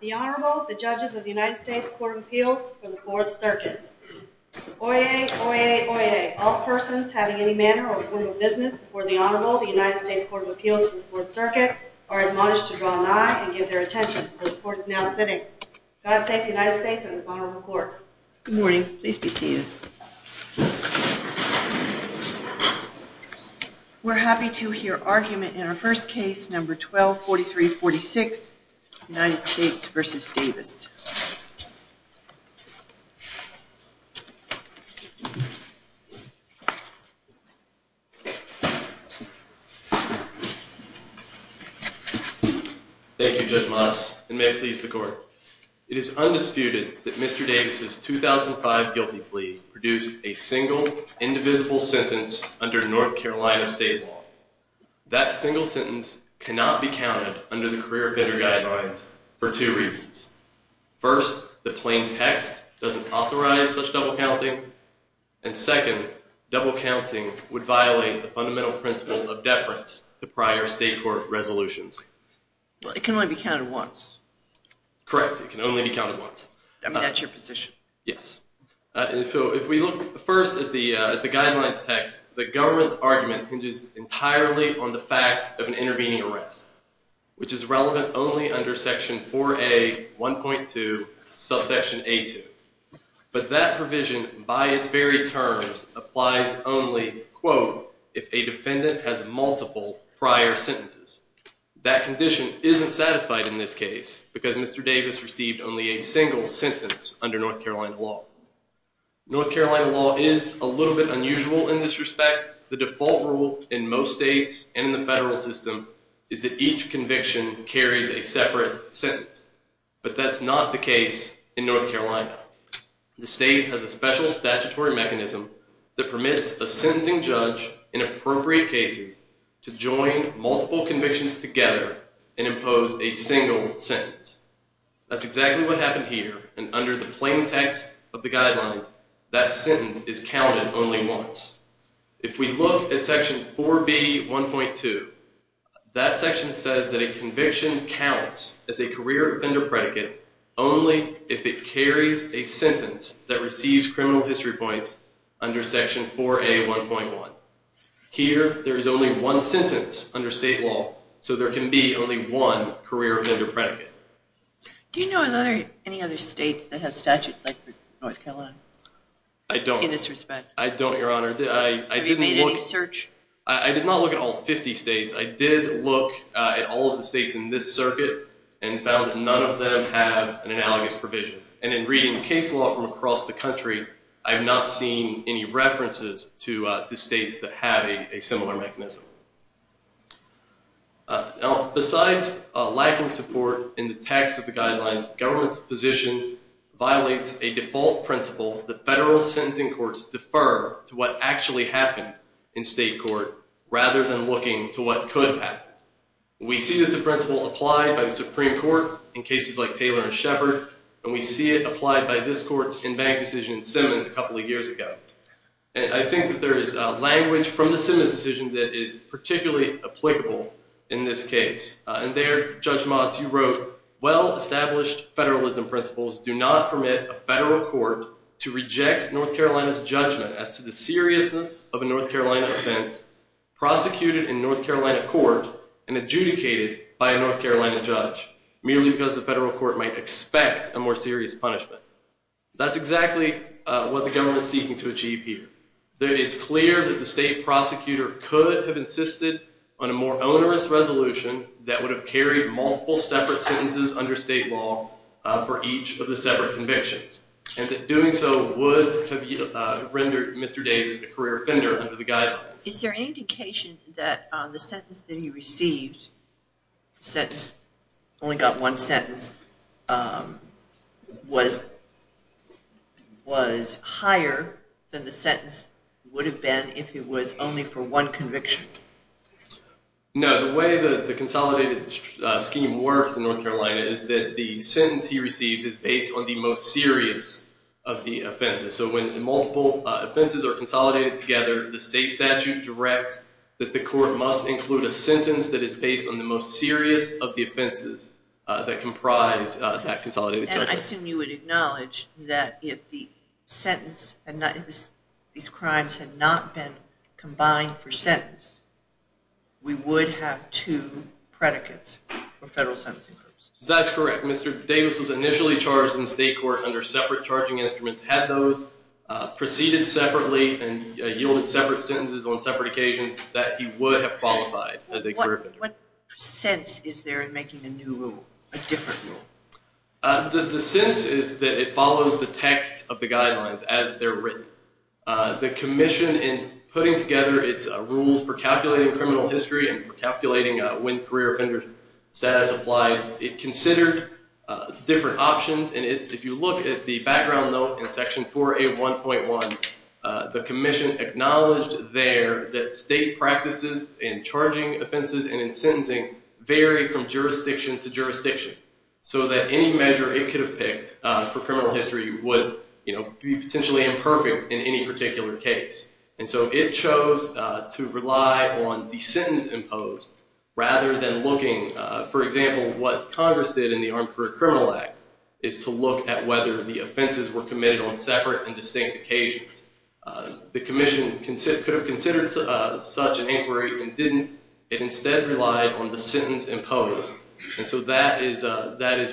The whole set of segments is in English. The Honorable, the Judges of the United States Court of Appeals for the Fourth Circuit. Oyez! Oyez! Oyez! All persons having any manner or form of business before the Honorable of the United States Court of Appeals for the Fourth Circuit are admonished to draw an eye and give their attention where the Court is now sitting. God save the United States and this Honorable Court. Good morning. Please be seated. We're happy to hear argument in our first case, No. 12-43-46, United States v. Davis. Thank you, Judge Motz, and may it please the Court. It is undisputed that Mr. Davis' 2005 guilty plea produced a single, indivisible sentence under North Carolina state law. That single sentence cannot be counted under the career offender guidelines for two reasons. First, the plain text doesn't authorize such double counting. And second, double counting would violate the fundamental principle of deference to prior state court resolutions. Well, it can only be counted once. Correct. It can only be counted once. I mean, that's your position. Yes. If we look first at the guidelines text, the government's argument hinges entirely on the fact of an intervening arrest, which is relevant only under Section 4A 1.2, subsection A2. But that provision, by its very terms, applies only, quote, if a defendant has multiple prior sentences. That condition isn't satisfied in this case because Mr. Davis received only a single sentence under North Carolina law. North Carolina law is a little bit unusual in this respect. The default rule in most states and in the federal system is that each conviction carries a separate sentence. But that's not the case in North Carolina. The state has a special statutory mechanism that permits a sentencing judge, in appropriate cases, to join multiple convictions together and impose a single sentence. That's exactly what happened here. And under the plain text of the guidelines, that sentence is counted only once. If we look at Section 4B 1.2, that section says that a conviction counts as a career offender predicate only if it carries a sentence that receives criminal history points under Section 4A 1.1. Here, there is only one sentence under state law, so there can be only one career offender predicate. Do you know of any other states that have statutes like North Carolina? I don't. In this respect. I don't, Your Honor. Have you made any search? I did not look at all 50 states. I did look at all of the states in this circuit and found that none of them have an analogous provision. And in reading case law from across the country, I have not seen any references to states that have a similar mechanism. Besides lacking support in the text of the guidelines, the government's position violates a default principle that federal sentencing courts defer to what actually happened in state court rather than looking to what could happen. We see this principle applied by the Supreme Court in cases like Taylor and Shepard, and we see it applied by this court's in-bank decision in Simmons a couple of years ago. And I think that there is language from the Simmons decision that is particularly applicable in this case. And there, Judge Motz, you wrote, well-established federalism principles do not permit a federal court to reject North Carolina's judgment as to the seriousness of a North Carolina offense prosecuted in North Carolina court and adjudicated by a North Carolina judge, merely because the federal court might expect a more serious punishment. That's exactly what the government is seeking to achieve here. It's clear that the state prosecutor could have insisted on a more onerous resolution that would have carried multiple separate sentences under state law for each of the separate convictions, and that doing so would have rendered Mr. Davis a career offender under the guidelines. Is there any indication that the sentence that he received, the sentence, only got one sentence, was higher than the sentence would have been if it was only for one conviction? No. The way the consolidated scheme works in North Carolina is that the sentence he received is based on the most serious of the offenses. So when multiple offenses are consolidated together, the state statute directs that the court must include a sentence that is based on the most serious of the offenses that comprise that consolidated judgment. And I assume you would acknowledge that if these crimes had not been combined for sentence, we would have two predicates for federal sentencing purposes. That's correct. Mr. Davis was initially charged in state court under separate charging instruments, had those proceeded separately and yielded separate sentences on separate occasions, that he would have qualified as a career offender. What sense is there in making a new rule, a different rule? The sense is that it follows the text of the guidelines as they're written. The commission in putting together its rules for calculating criminal history and calculating when career offender status applied, it considered different options. And if you look at the background note in section 4A1.1, the commission acknowledged there that state practices in charging offenses and in sentencing vary from jurisdiction to jurisdiction, so that any measure it could have picked for criminal history would be potentially imperfect in any particular case. And so it chose to rely on the sentence imposed rather than looking, for example, what Congress did in the Armed Career Criminal Act, is to look at whether the offenses were committed on separate and distinct occasions. The commission could have considered such an inquiry and didn't. It instead relied on the sentence imposed. And so that is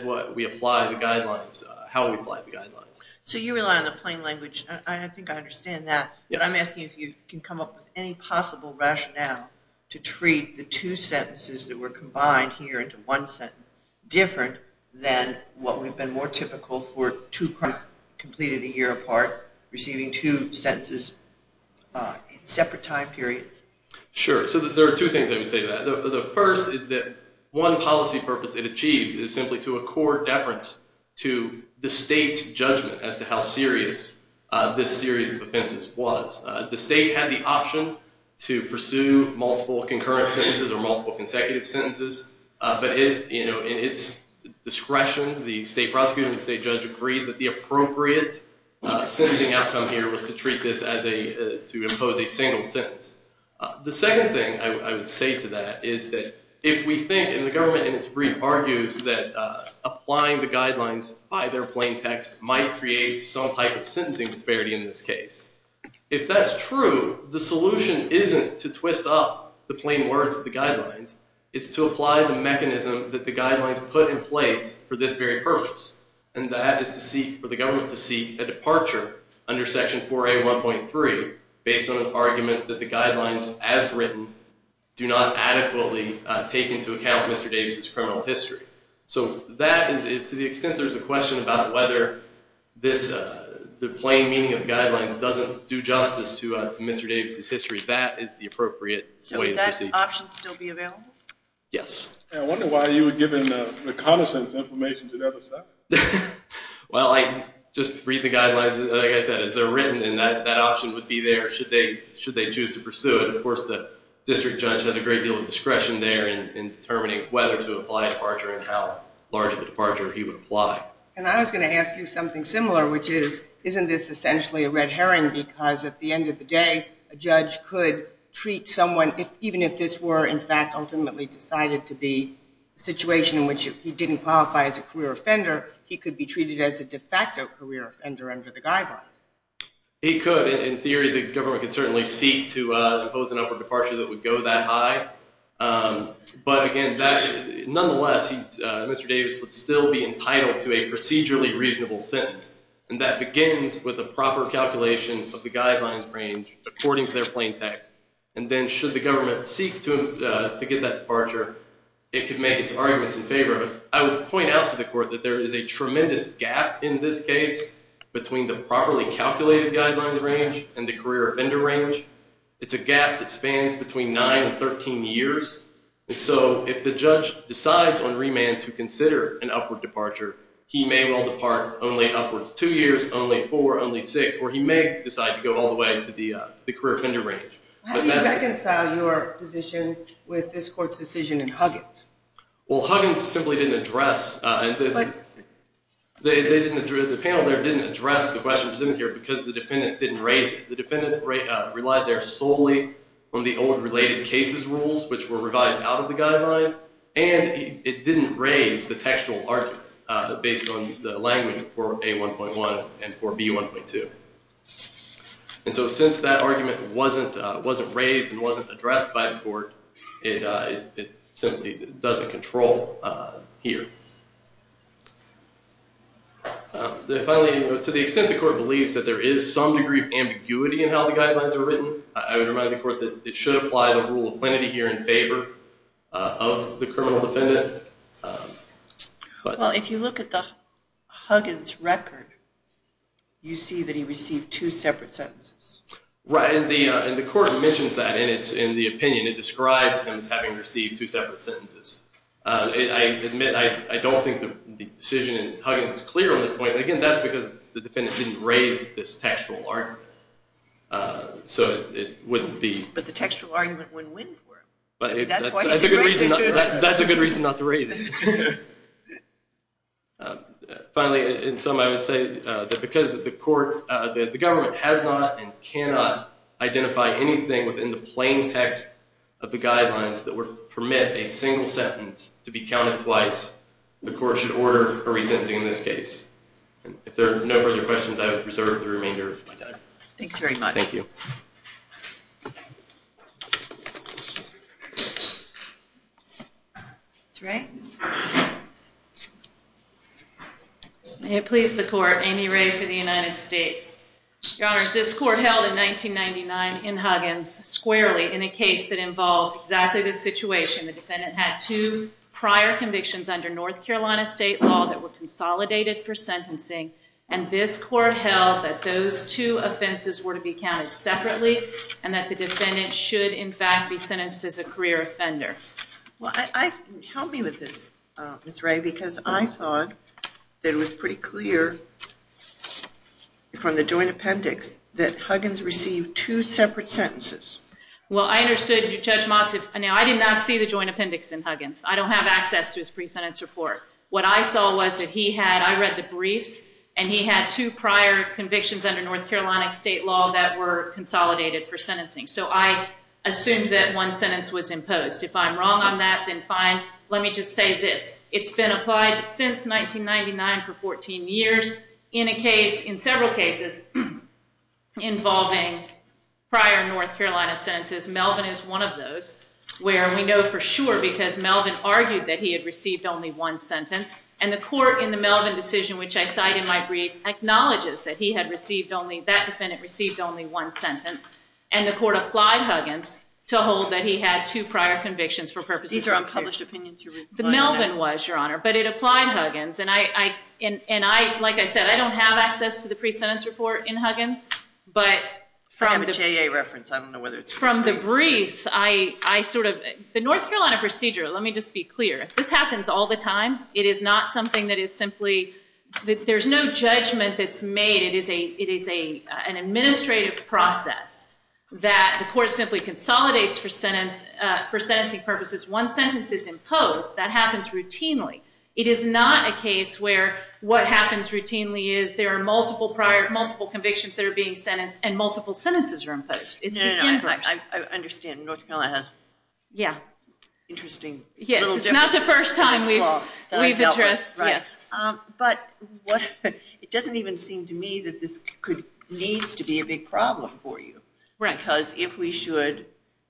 what we apply the guidelines, how we apply the guidelines. So you rely on the plain language. I think I understand that, but I'm asking if you can come up with any possible rationale to treat the two sentences that were combined here into one sentence different than what would have been more typical for two crimes completed a year apart, receiving two sentences in separate time periods. Sure. So there are two things I would say to that. The first is that one policy purpose it achieves is simply to accord deference to the state's judgment as to how serious this series of offenses was. The state had the option to pursue multiple concurrent sentences or multiple consecutive sentences. But in its discretion, the state prosecutor and the state judge agreed that the appropriate sentencing outcome here was to treat this as a, to impose a single sentence. The second thing I would say to that is that if we think, and the government in its brief argues, that applying the guidelines by their plain text might create some type of sentencing disparity in this case. If that's true, the solution isn't to twist up the plain words of the guidelines. It's to apply the mechanism that the guidelines put in place for this very purpose. And that is to seek, for the government to seek a departure under Section 4A1.3 based on an argument that the guidelines, as written, do not adequately take into account Mr. Davis' criminal history. So that, to the extent there's a question about whether the plain meaning of the guidelines doesn't do justice to Mr. Davis' history, that is the appropriate way to proceed. So would that option still be available? Yes. I wonder why you were given the reconnaissance information to never say. Well, I just read the guidelines, like I said, as they're written. And that option would be there should they choose to pursue it. Of course, the district judge has a great deal of discretion there in determining whether to apply a departure and how large of a departure he would apply. And I was going to ask you something similar, which is, isn't this essentially a red herring? Because at the end of the day, a judge could treat someone, even if this were, in fact, ultimately decided to be a situation in which he didn't qualify as a career offender, he could be treated as a de facto career offender under the guidelines. He could. In theory, the government could certainly seek to impose an upward departure that would go that high. But, again, nonetheless, Mr. Davis would still be entitled to a procedurally reasonable sentence. And that begins with a proper calculation of the guidelines range according to their plain text. And then should the government seek to get that departure, it could make its arguments in favor of it. I would point out to the court that there is a tremendous gap in this case between the properly calculated guidelines range and the career offender range. It's a gap that spans between nine and 13 years. So if the judge decides on remand to consider an upward departure, he may well depart only upwards two years, only four, only six, or he may decide to go all the way to the career offender range. How do you reconcile your position with this court's decision in Huggins? Well, Huggins simply didn't address the panel there didn't address the question presented here because the defendant didn't raise it. The defendant relied there solely on the old related cases rules, which were revised out of the guidelines, and it didn't raise the textual argument based on the language for A1.1 and for B1.2. And so since that argument wasn't raised and wasn't addressed by the court, it simply doesn't control here. Finally, to the extent the court believes that there is some degree of ambiguity in how the guidelines are written, I would remind the court that it should apply the rule of plenity here in favor of the criminal defendant. Well, if you look at the Huggins record, you see that he received two separate sentences. Right, and the court mentions that in the opinion. It describes him as having received two separate sentences. I admit I don't think the decision in Huggins is clear on this point. Again, that's because the defendant didn't raise this textual argument, so it wouldn't be. But the textual argument wouldn't win for him. That's a good reason not to raise it. Finally, in sum, I would say that because the government has not and cannot identify anything within the plain text of the guidelines that would permit a single sentence to be counted twice, the court should order a resenting in this case. If there are no further questions, I would reserve the remainder of my time. Thanks very much. Thank you. Ms. Ray? May it please the court, Amy Ray for the United States. Your Honors, this court held in 1999 in Huggins squarely in a case that involved exactly this situation. The defendant had two prior convictions under North Carolina state law that were consolidated for sentencing, and this court held that those two offenses were to be counted separately and that the defendant should, in fact, be sentenced as a career offender. Well, help me with this, Ms. Ray, because I thought that it was pretty clear from the joint appendix that Huggins received two separate sentences. Well, I understood, Judge Motz. Now, I did not see the joint appendix in Huggins. I don't have access to his pre-sentence report. What I saw was that he had, I read the briefs, and he had two prior convictions under North Carolina state law that were consolidated for sentencing. So I assumed that one sentence was imposed. If I'm wrong on that, then fine. Let me just say this. It's been applied since 1999 for 14 years in a case, in several cases, involving prior North Carolina sentences. Melvin is one of those where we know for sure because Melvin argued that he had received only one sentence. And the court in the Melvin decision, which I cite in my brief, acknowledges that he had received only, that defendant received only one sentence. And the court applied Huggins to hold that he had two prior convictions for purposes of career. These are unpublished opinions. The Melvin was, Your Honor. But it applied Huggins. And I, like I said, I don't have access to the pre-sentence report in Huggins. I have a JA reference. I don't know whether it's free. From the briefs, I sort of, the North Carolina procedure, let me just be clear, this happens all the time. It is not something that is simply, there's no judgment that's made. It is an administrative process that the court simply consolidates for sentencing purposes. One sentence is imposed. That happens routinely. It is not a case where what happens routinely is there are multiple convictions that are being sentenced and multiple sentences are imposed. It's the inverse. I understand. North Carolina has interesting little differences. Yes, it's not the first time we've addressed, yes. But it doesn't even seem to me that this needs to be a big problem for you. Right. Because if we should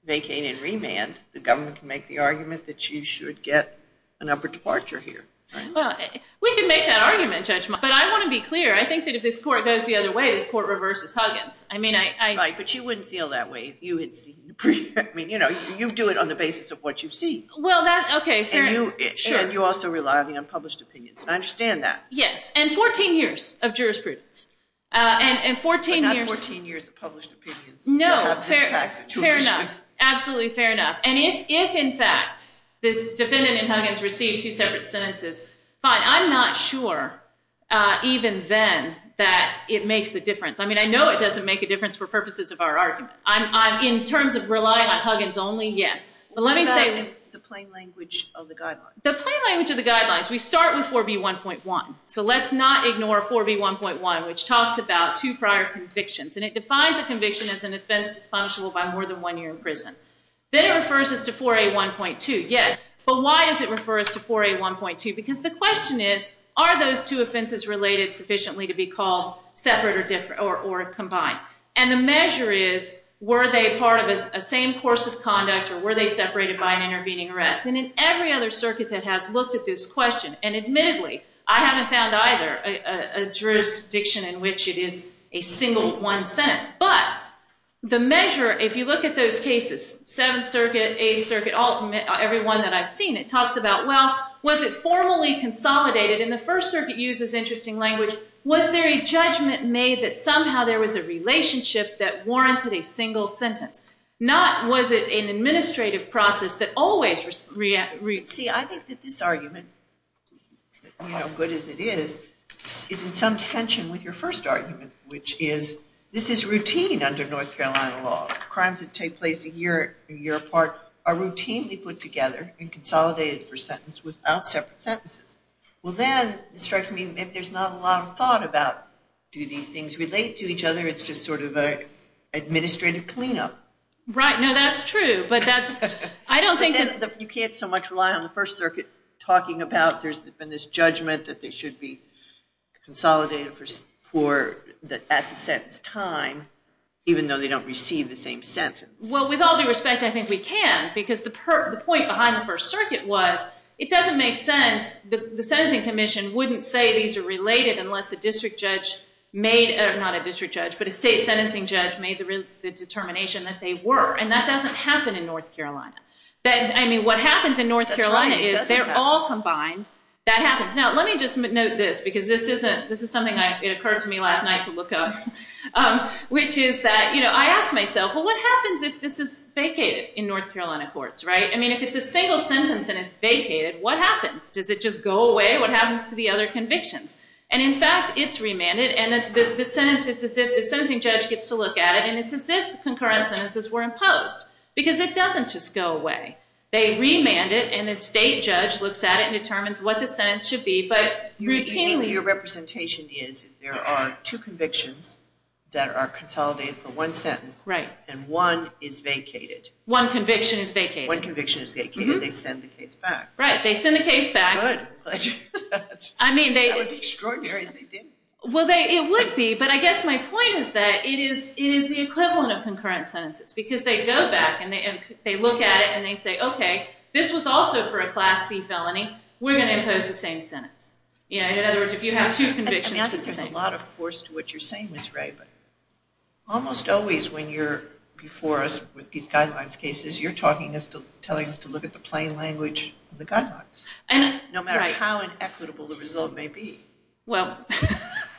vacate and remand, the government can make the argument that you should get an upper departure here, right? Well, we can make that argument, Judge Martin. But I want to be clear. I think that if this court goes the other way, this court reverses Huggins. Right. But you wouldn't feel that way if you had seen the brief. I mean, you know, you do it on the basis of what you've seen. Well, that's okay. Sure. And you also rely on the unpublished opinions. I understand that. Yes. And 14 years of jurisprudence. But not 14 years of published opinions. No. Fair enough. Absolutely fair enough. And if, in fact, this defendant in Huggins received two separate sentences, fine. I'm not sure, even then, that it makes a difference. I mean, I know it doesn't make a difference for purposes of our argument. In terms of relying on Huggins only, yes. But let me say the plain language of the guidelines. The plain language of the guidelines. We start with 4B1.1. So let's not ignore 4B1.1, which talks about two prior convictions. And it defines a conviction as an offense that's punishable by more than one year in prison. Then it refers us to 4A1.2. Yes. But why does it refer us to 4A1.2? Because the question is, are those two offenses related sufficiently to be called separate or combined? And the measure is, were they part of the same course of conduct, or were they separated by an intervening arrest? And in every other circuit that has looked at this question, and admittedly, I haven't found either a jurisdiction in which it is a single one sentence. But the measure, if you look at those cases, Seventh Circuit, Eighth Circuit, every one that I've seen, it talks about, well, was it formally consolidated? And the First Circuit uses interesting language. Was there a judgment made that somehow there was a relationship that warranted a single sentence? Not was it an administrative process that always reacts. See, I think that this argument, good as it is, is in some tension with your first argument, which is this is routine under North Carolina law. Crimes that take place a year apart are routinely put together and consolidated for sentence without separate sentences. Well, then it strikes me that there's not a lot of thought about do these things relate to each other? It's just sort of an administrative cleanup. Right. No, that's true. You can't so much rely on the First Circuit talking about there's been this judgment that they should be consolidated at the sentence time, even though they don't receive the same sentence. Well, with all due respect, I think we can. Because the point behind the First Circuit was it doesn't make sense. The Sentencing Commission wouldn't say these are related unless a district judge made, not a district judge, but a state sentencing judge made the determination that they were. And that doesn't happen in North Carolina. I mean, what happens in North Carolina is they're all combined. That happens. Now, let me just note this, because this is something that occurred to me last night to look up, which is that I ask myself, well, what happens if this is vacated in North Carolina courts, right? I mean, if it's a single sentence and it's vacated, what happens? Does it just go away? What happens to the other convictions? And, in fact, it's remanded, and the sentencing judge gets to look at it, and it's as if concurrent sentences were imposed, because it doesn't just go away. They remand it, and the state judge looks at it and determines what the sentence should be. But routinely, your representation is there are two convictions that are consolidated for one sentence. Right. And one is vacated. One conviction is vacated. One conviction is vacated. They send the case back. Right. They send the case back. Good. That would be extraordinary if they didn't. Well, it would be, but I guess my point is that it is the equivalent of concurrent sentences, because they go back, and they look at it, and they say, okay, this was also for a Class C felony. We're going to impose the same sentence. In other words, if you have two convictions, it's the same. There's a lot of force to what you're saying, Ms. Ray, but almost always when you're before us with these guidelines cases, you're telling us to look at the plain language of the guidelines, no matter how inequitable the result may be. Well,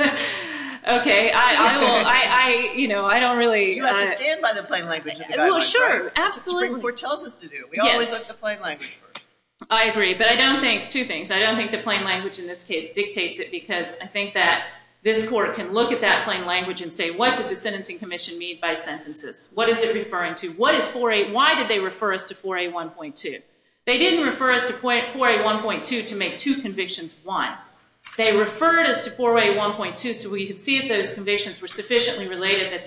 okay, I don't really. You have to stand by the plain language of the guidelines. Well, sure, absolutely. That's what the Supreme Court tells us to do. We always look at the plain language first. I agree, but I don't think two things. I don't think the plain language in this case dictates it, because I think that this Court can look at that plain language and say, what did the Sentencing Commission mean by sentences? What is it referring to? What is 4A? Why did they refer us to 4A1.2? They didn't refer us to 4A1.2 to make two convictions one. They referred us to 4A1.2 so we could see if those convictions were sufficiently related that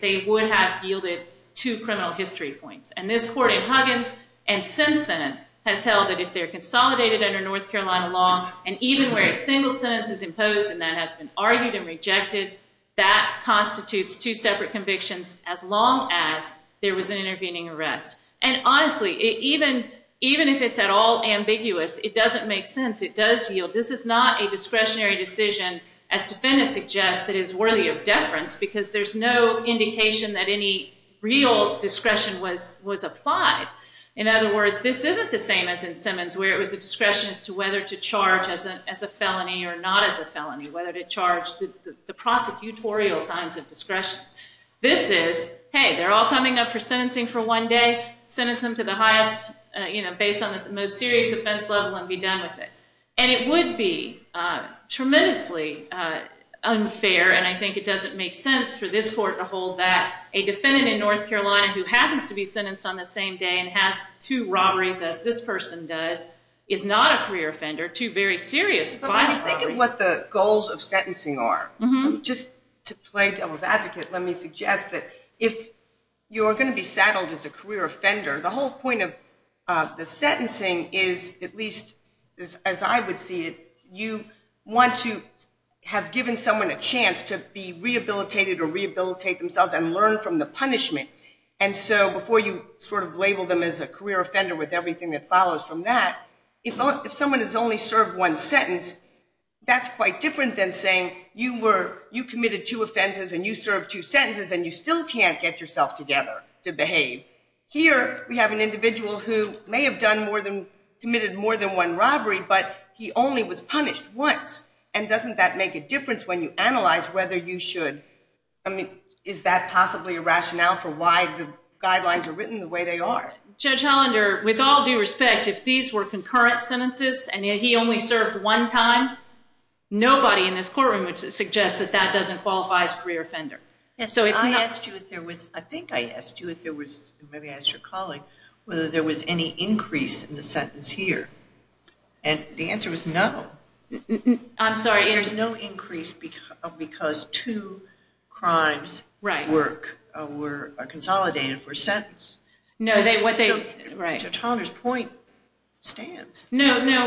they would have yielded two criminal history points. And this Court in Huggins and since then has held that if they're consolidated under North Carolina law and even where a single sentence is imposed and that has been argued and rejected, that constitutes two separate convictions as long as there was an intervening arrest. And honestly, even if it's at all ambiguous, it doesn't make sense. It does yield. This is not a discretionary decision, as defendants suggest, that is worthy of deference because there's no indication that any real discretion was applied. In other words, this isn't the same as in Simmons where it was a discretion as to whether to charge as a felony or not as a felony, whether to charge the prosecutorial kinds of discretions. This is, hey, they're all coming up for sentencing for one day, sentence them to the highest, you know, based on the most serious offense level and be done with it. And it would be tremendously unfair, and I think it doesn't make sense for this Court to hold that a defendant in North Carolina who happens to be sentenced on the same day and has two robberies as this person does is not a career offender, two very serious violent robberies. But when you think of what the goals of sentencing are, just to play devil's advocate, let me suggest that if you are going to be saddled as a career offender, the whole point of the sentencing is at least as I would see it, you want to have given someone a chance to be rehabilitated or rehabilitate themselves and learn from the punishment. And so before you sort of label them as a career offender with everything that follows from that, if someone has only served one sentence, that's quite different than saying you committed two offenses and you Here we have an individual who may have committed more than one robbery, but he only was punished once. And doesn't that make a difference when you analyze whether you should, I mean, is that possibly a rationale for why the guidelines are written the way they are? Judge Hollander, with all due respect, if these were concurrent sentences and yet he only served one time, nobody in this courtroom would suggest that that doesn't qualify as a career offender. I asked you if there was, I think I asked you if there was, maybe I asked your colleague, whether there was any increase in the sentence here. And the answer was no. I'm sorry. There's no increase because two crimes work, were consolidated for a sentence. No, what they, right. Judge Hollander's point stands. No, no.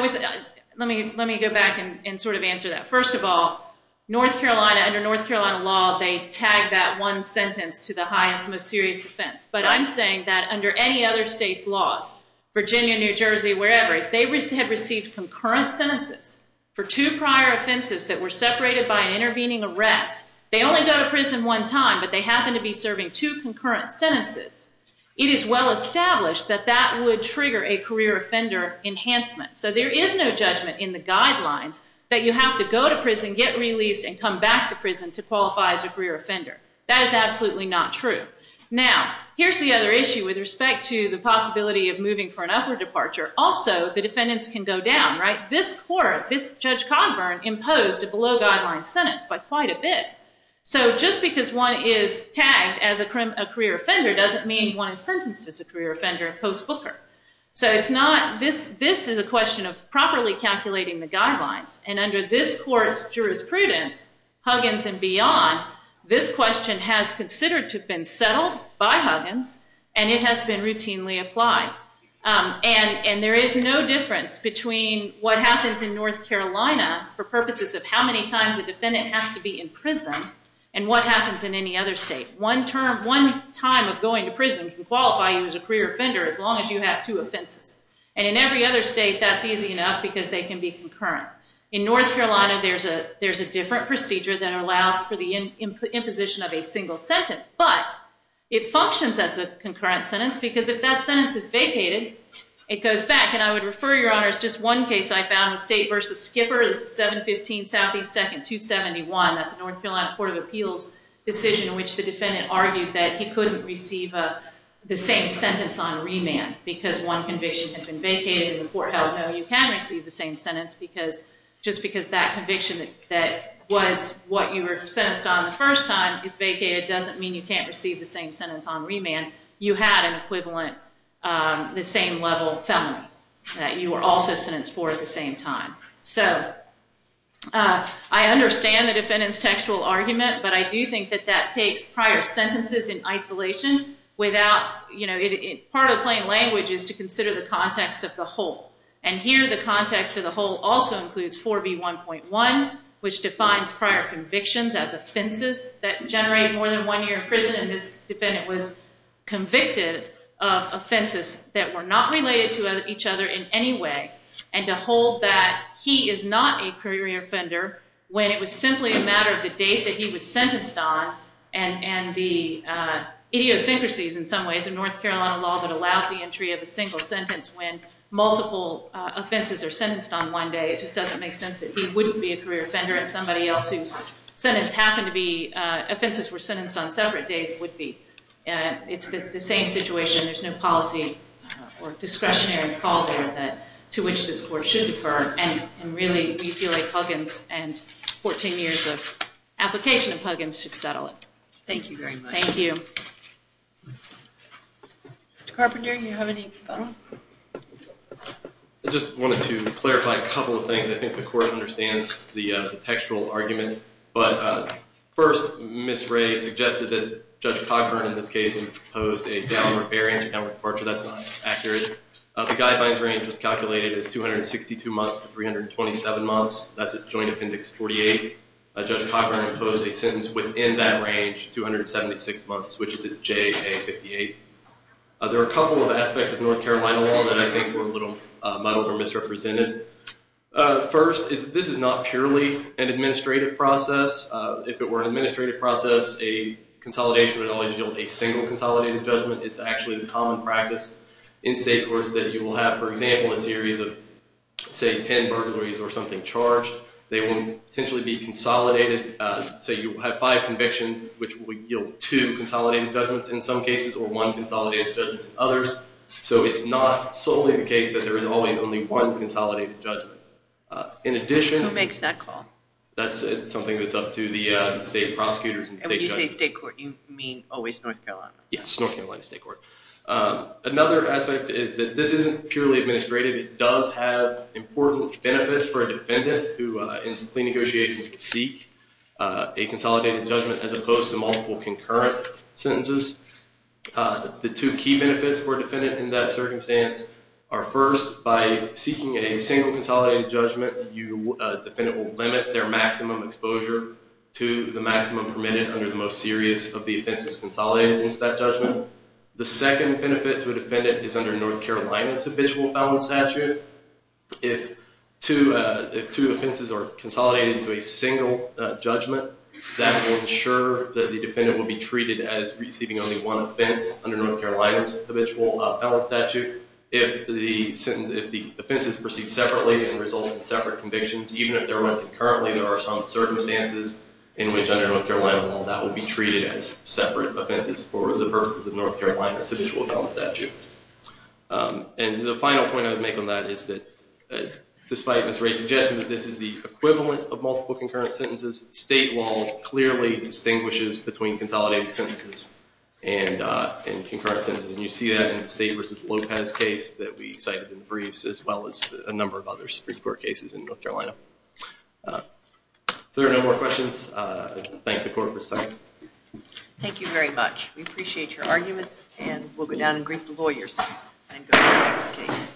Let me go back and sort of answer that. First of all, North Carolina under North Carolina law, they tag that one sentence to the highest, most serious offense. But I'm saying that under any other state's laws, Virginia, New Jersey, wherever, if they had received concurrent sentences for two prior offenses that were separated by an intervening arrest, they only go to prison one time, but they happen to be serving two concurrent sentences. It is well established that that would trigger a career offender enhancement. So there is no judgment in the guidelines that you have to go to prison, get released, and come back to prison to qualify as a career offender. That is absolutely not true. Now, here's the other issue with respect to the possibility of moving for an upper departure. Also, the defendants can go down, right? This court, this Judge Cogburn imposed a below guidelines sentence by quite a bit. So just because one is tagged as a career offender doesn't mean one is sentenced as a career offender post-Booker. So it's not, this, this is a question of properly calculating the guidelines. And under this court's jurisprudence, Huggins and beyond, this question has considered to have been settled by Huggins, and it has been routinely applied. And, and there is no difference between what happens in North Carolina for purposes of how many times a defendant has to be in prison and what happens in any other state. One term, one time of going to prison can qualify you as a career offender as long as you have two offenses. And in every other state, that's easy enough because they can be concurrent. In North Carolina, there's a, there's a different procedure that allows for the imposition of a single sentence, but it functions as a concurrent sentence because if that sentence is vacated, it goes back. And I would refer your honors, just one case I found was State versus Skipper. This is 715 Southeast 2nd, 271. That's a North Carolina Court of Appeals decision in which the defendant argued that he couldn't receive the same sentence on remand because one conviction had been vacated and the court held no, you can receive the same sentence because just because that conviction that was what you were sentenced on the first time is vacated doesn't mean you can't receive the same sentence on remand. You had an equivalent, the same level felony that you were also sentenced for at the same time. So I understand the defendant's textual argument, but I do think that that takes prior sentences in isolation without, you know, part of the plain language is to consider the context of the whole. And here, the context of the whole also includes 4B1.1, which defines prior convictions as offenses that generate more than one year in prison. And this defendant was convicted of offenses that were not related to each other in any way. And to hold that he is not a career offender when it was simply a matter of the date that he was sentenced on and the idiosyncrasies in some ways of North Carolina law that allows the entry of a single sentence when multiple offenses are sentenced on one day, it just doesn't make sense that he wouldn't be a career offender and somebody else whose sentence happened to be, offenses were sentenced on separate days would be. It's the same situation. There's no policy or discretionary call there that to which this court should defer. And really we feel like Huggins and 14 years of application of Huggins should settle it. Thank you very much. Thank you. Mr. Carpenter, do you have any? I just wanted to clarify a couple of things. I think the court understands the textual argument, but first Ms. Ray suggested that Judge Cochran in this case imposed a downward bearing, downward departure. That's not accurate. The guidelines range was calculated as 262 months to 327 months. That's a joint appendix 48. Judge Cochran imposed a sentence within that range, 276 months, which is a JA 58. There are a couple of aspects of North Carolina law that I think were a little muddled or misrepresented. First, this is not purely an administrative process. If it were an administrative process, a consolidation would always yield a single consolidated judgment. It's actually the common practice in state courts that you will have, for example, They will potentially be consolidated. Say you have five convictions, which would yield two consolidated judgments in some cases or one consolidated judgment in others. So it's not solely the case that there is always only one consolidated judgment. Who makes that call? That's something that's up to the state prosecutors and state judges. And when you say state court, you mean always North Carolina? Yes, North Carolina State Court. Another aspect is that this isn't purely administrative. It does have important benefits for a defendant, who is a plea negotiation to seek a consolidated judgment, as opposed to multiple concurrent sentences. The two key benefits for a defendant in that circumstance are first by seeking a single consolidated judgment. Defendant will limit their maximum exposure to the maximum permitted under the most serious of the offenses consolidated into that judgment. The second benefit to a defendant is under North Carolina's habitual felon statute. If two offenses are consolidated into a single judgment, that will ensure that the defendant will be treated as receiving only one offense under North Carolina's habitual felon statute. If the offenses proceed separately and result in separate convictions, even if they're run concurrently, there are some circumstances in which under North Carolina law that will be treated as separate offenses for the purposes of North Carolina's habitual felon statute. And the final point I would make on that is that, despite Ms. Ray's suggestion that this is the equivalent of multiple concurrent sentences, state law clearly distinguishes between consolidated sentences and concurrent sentences. And you see that in the State v. Lopez case that we cited in the briefs, as well as a number of other Supreme Court cases in North Carolina. If there are no more questions, I thank the Court for this time. Thank you very much. We appreciate your arguments, and we'll go down and greet the lawyers and go to the next case.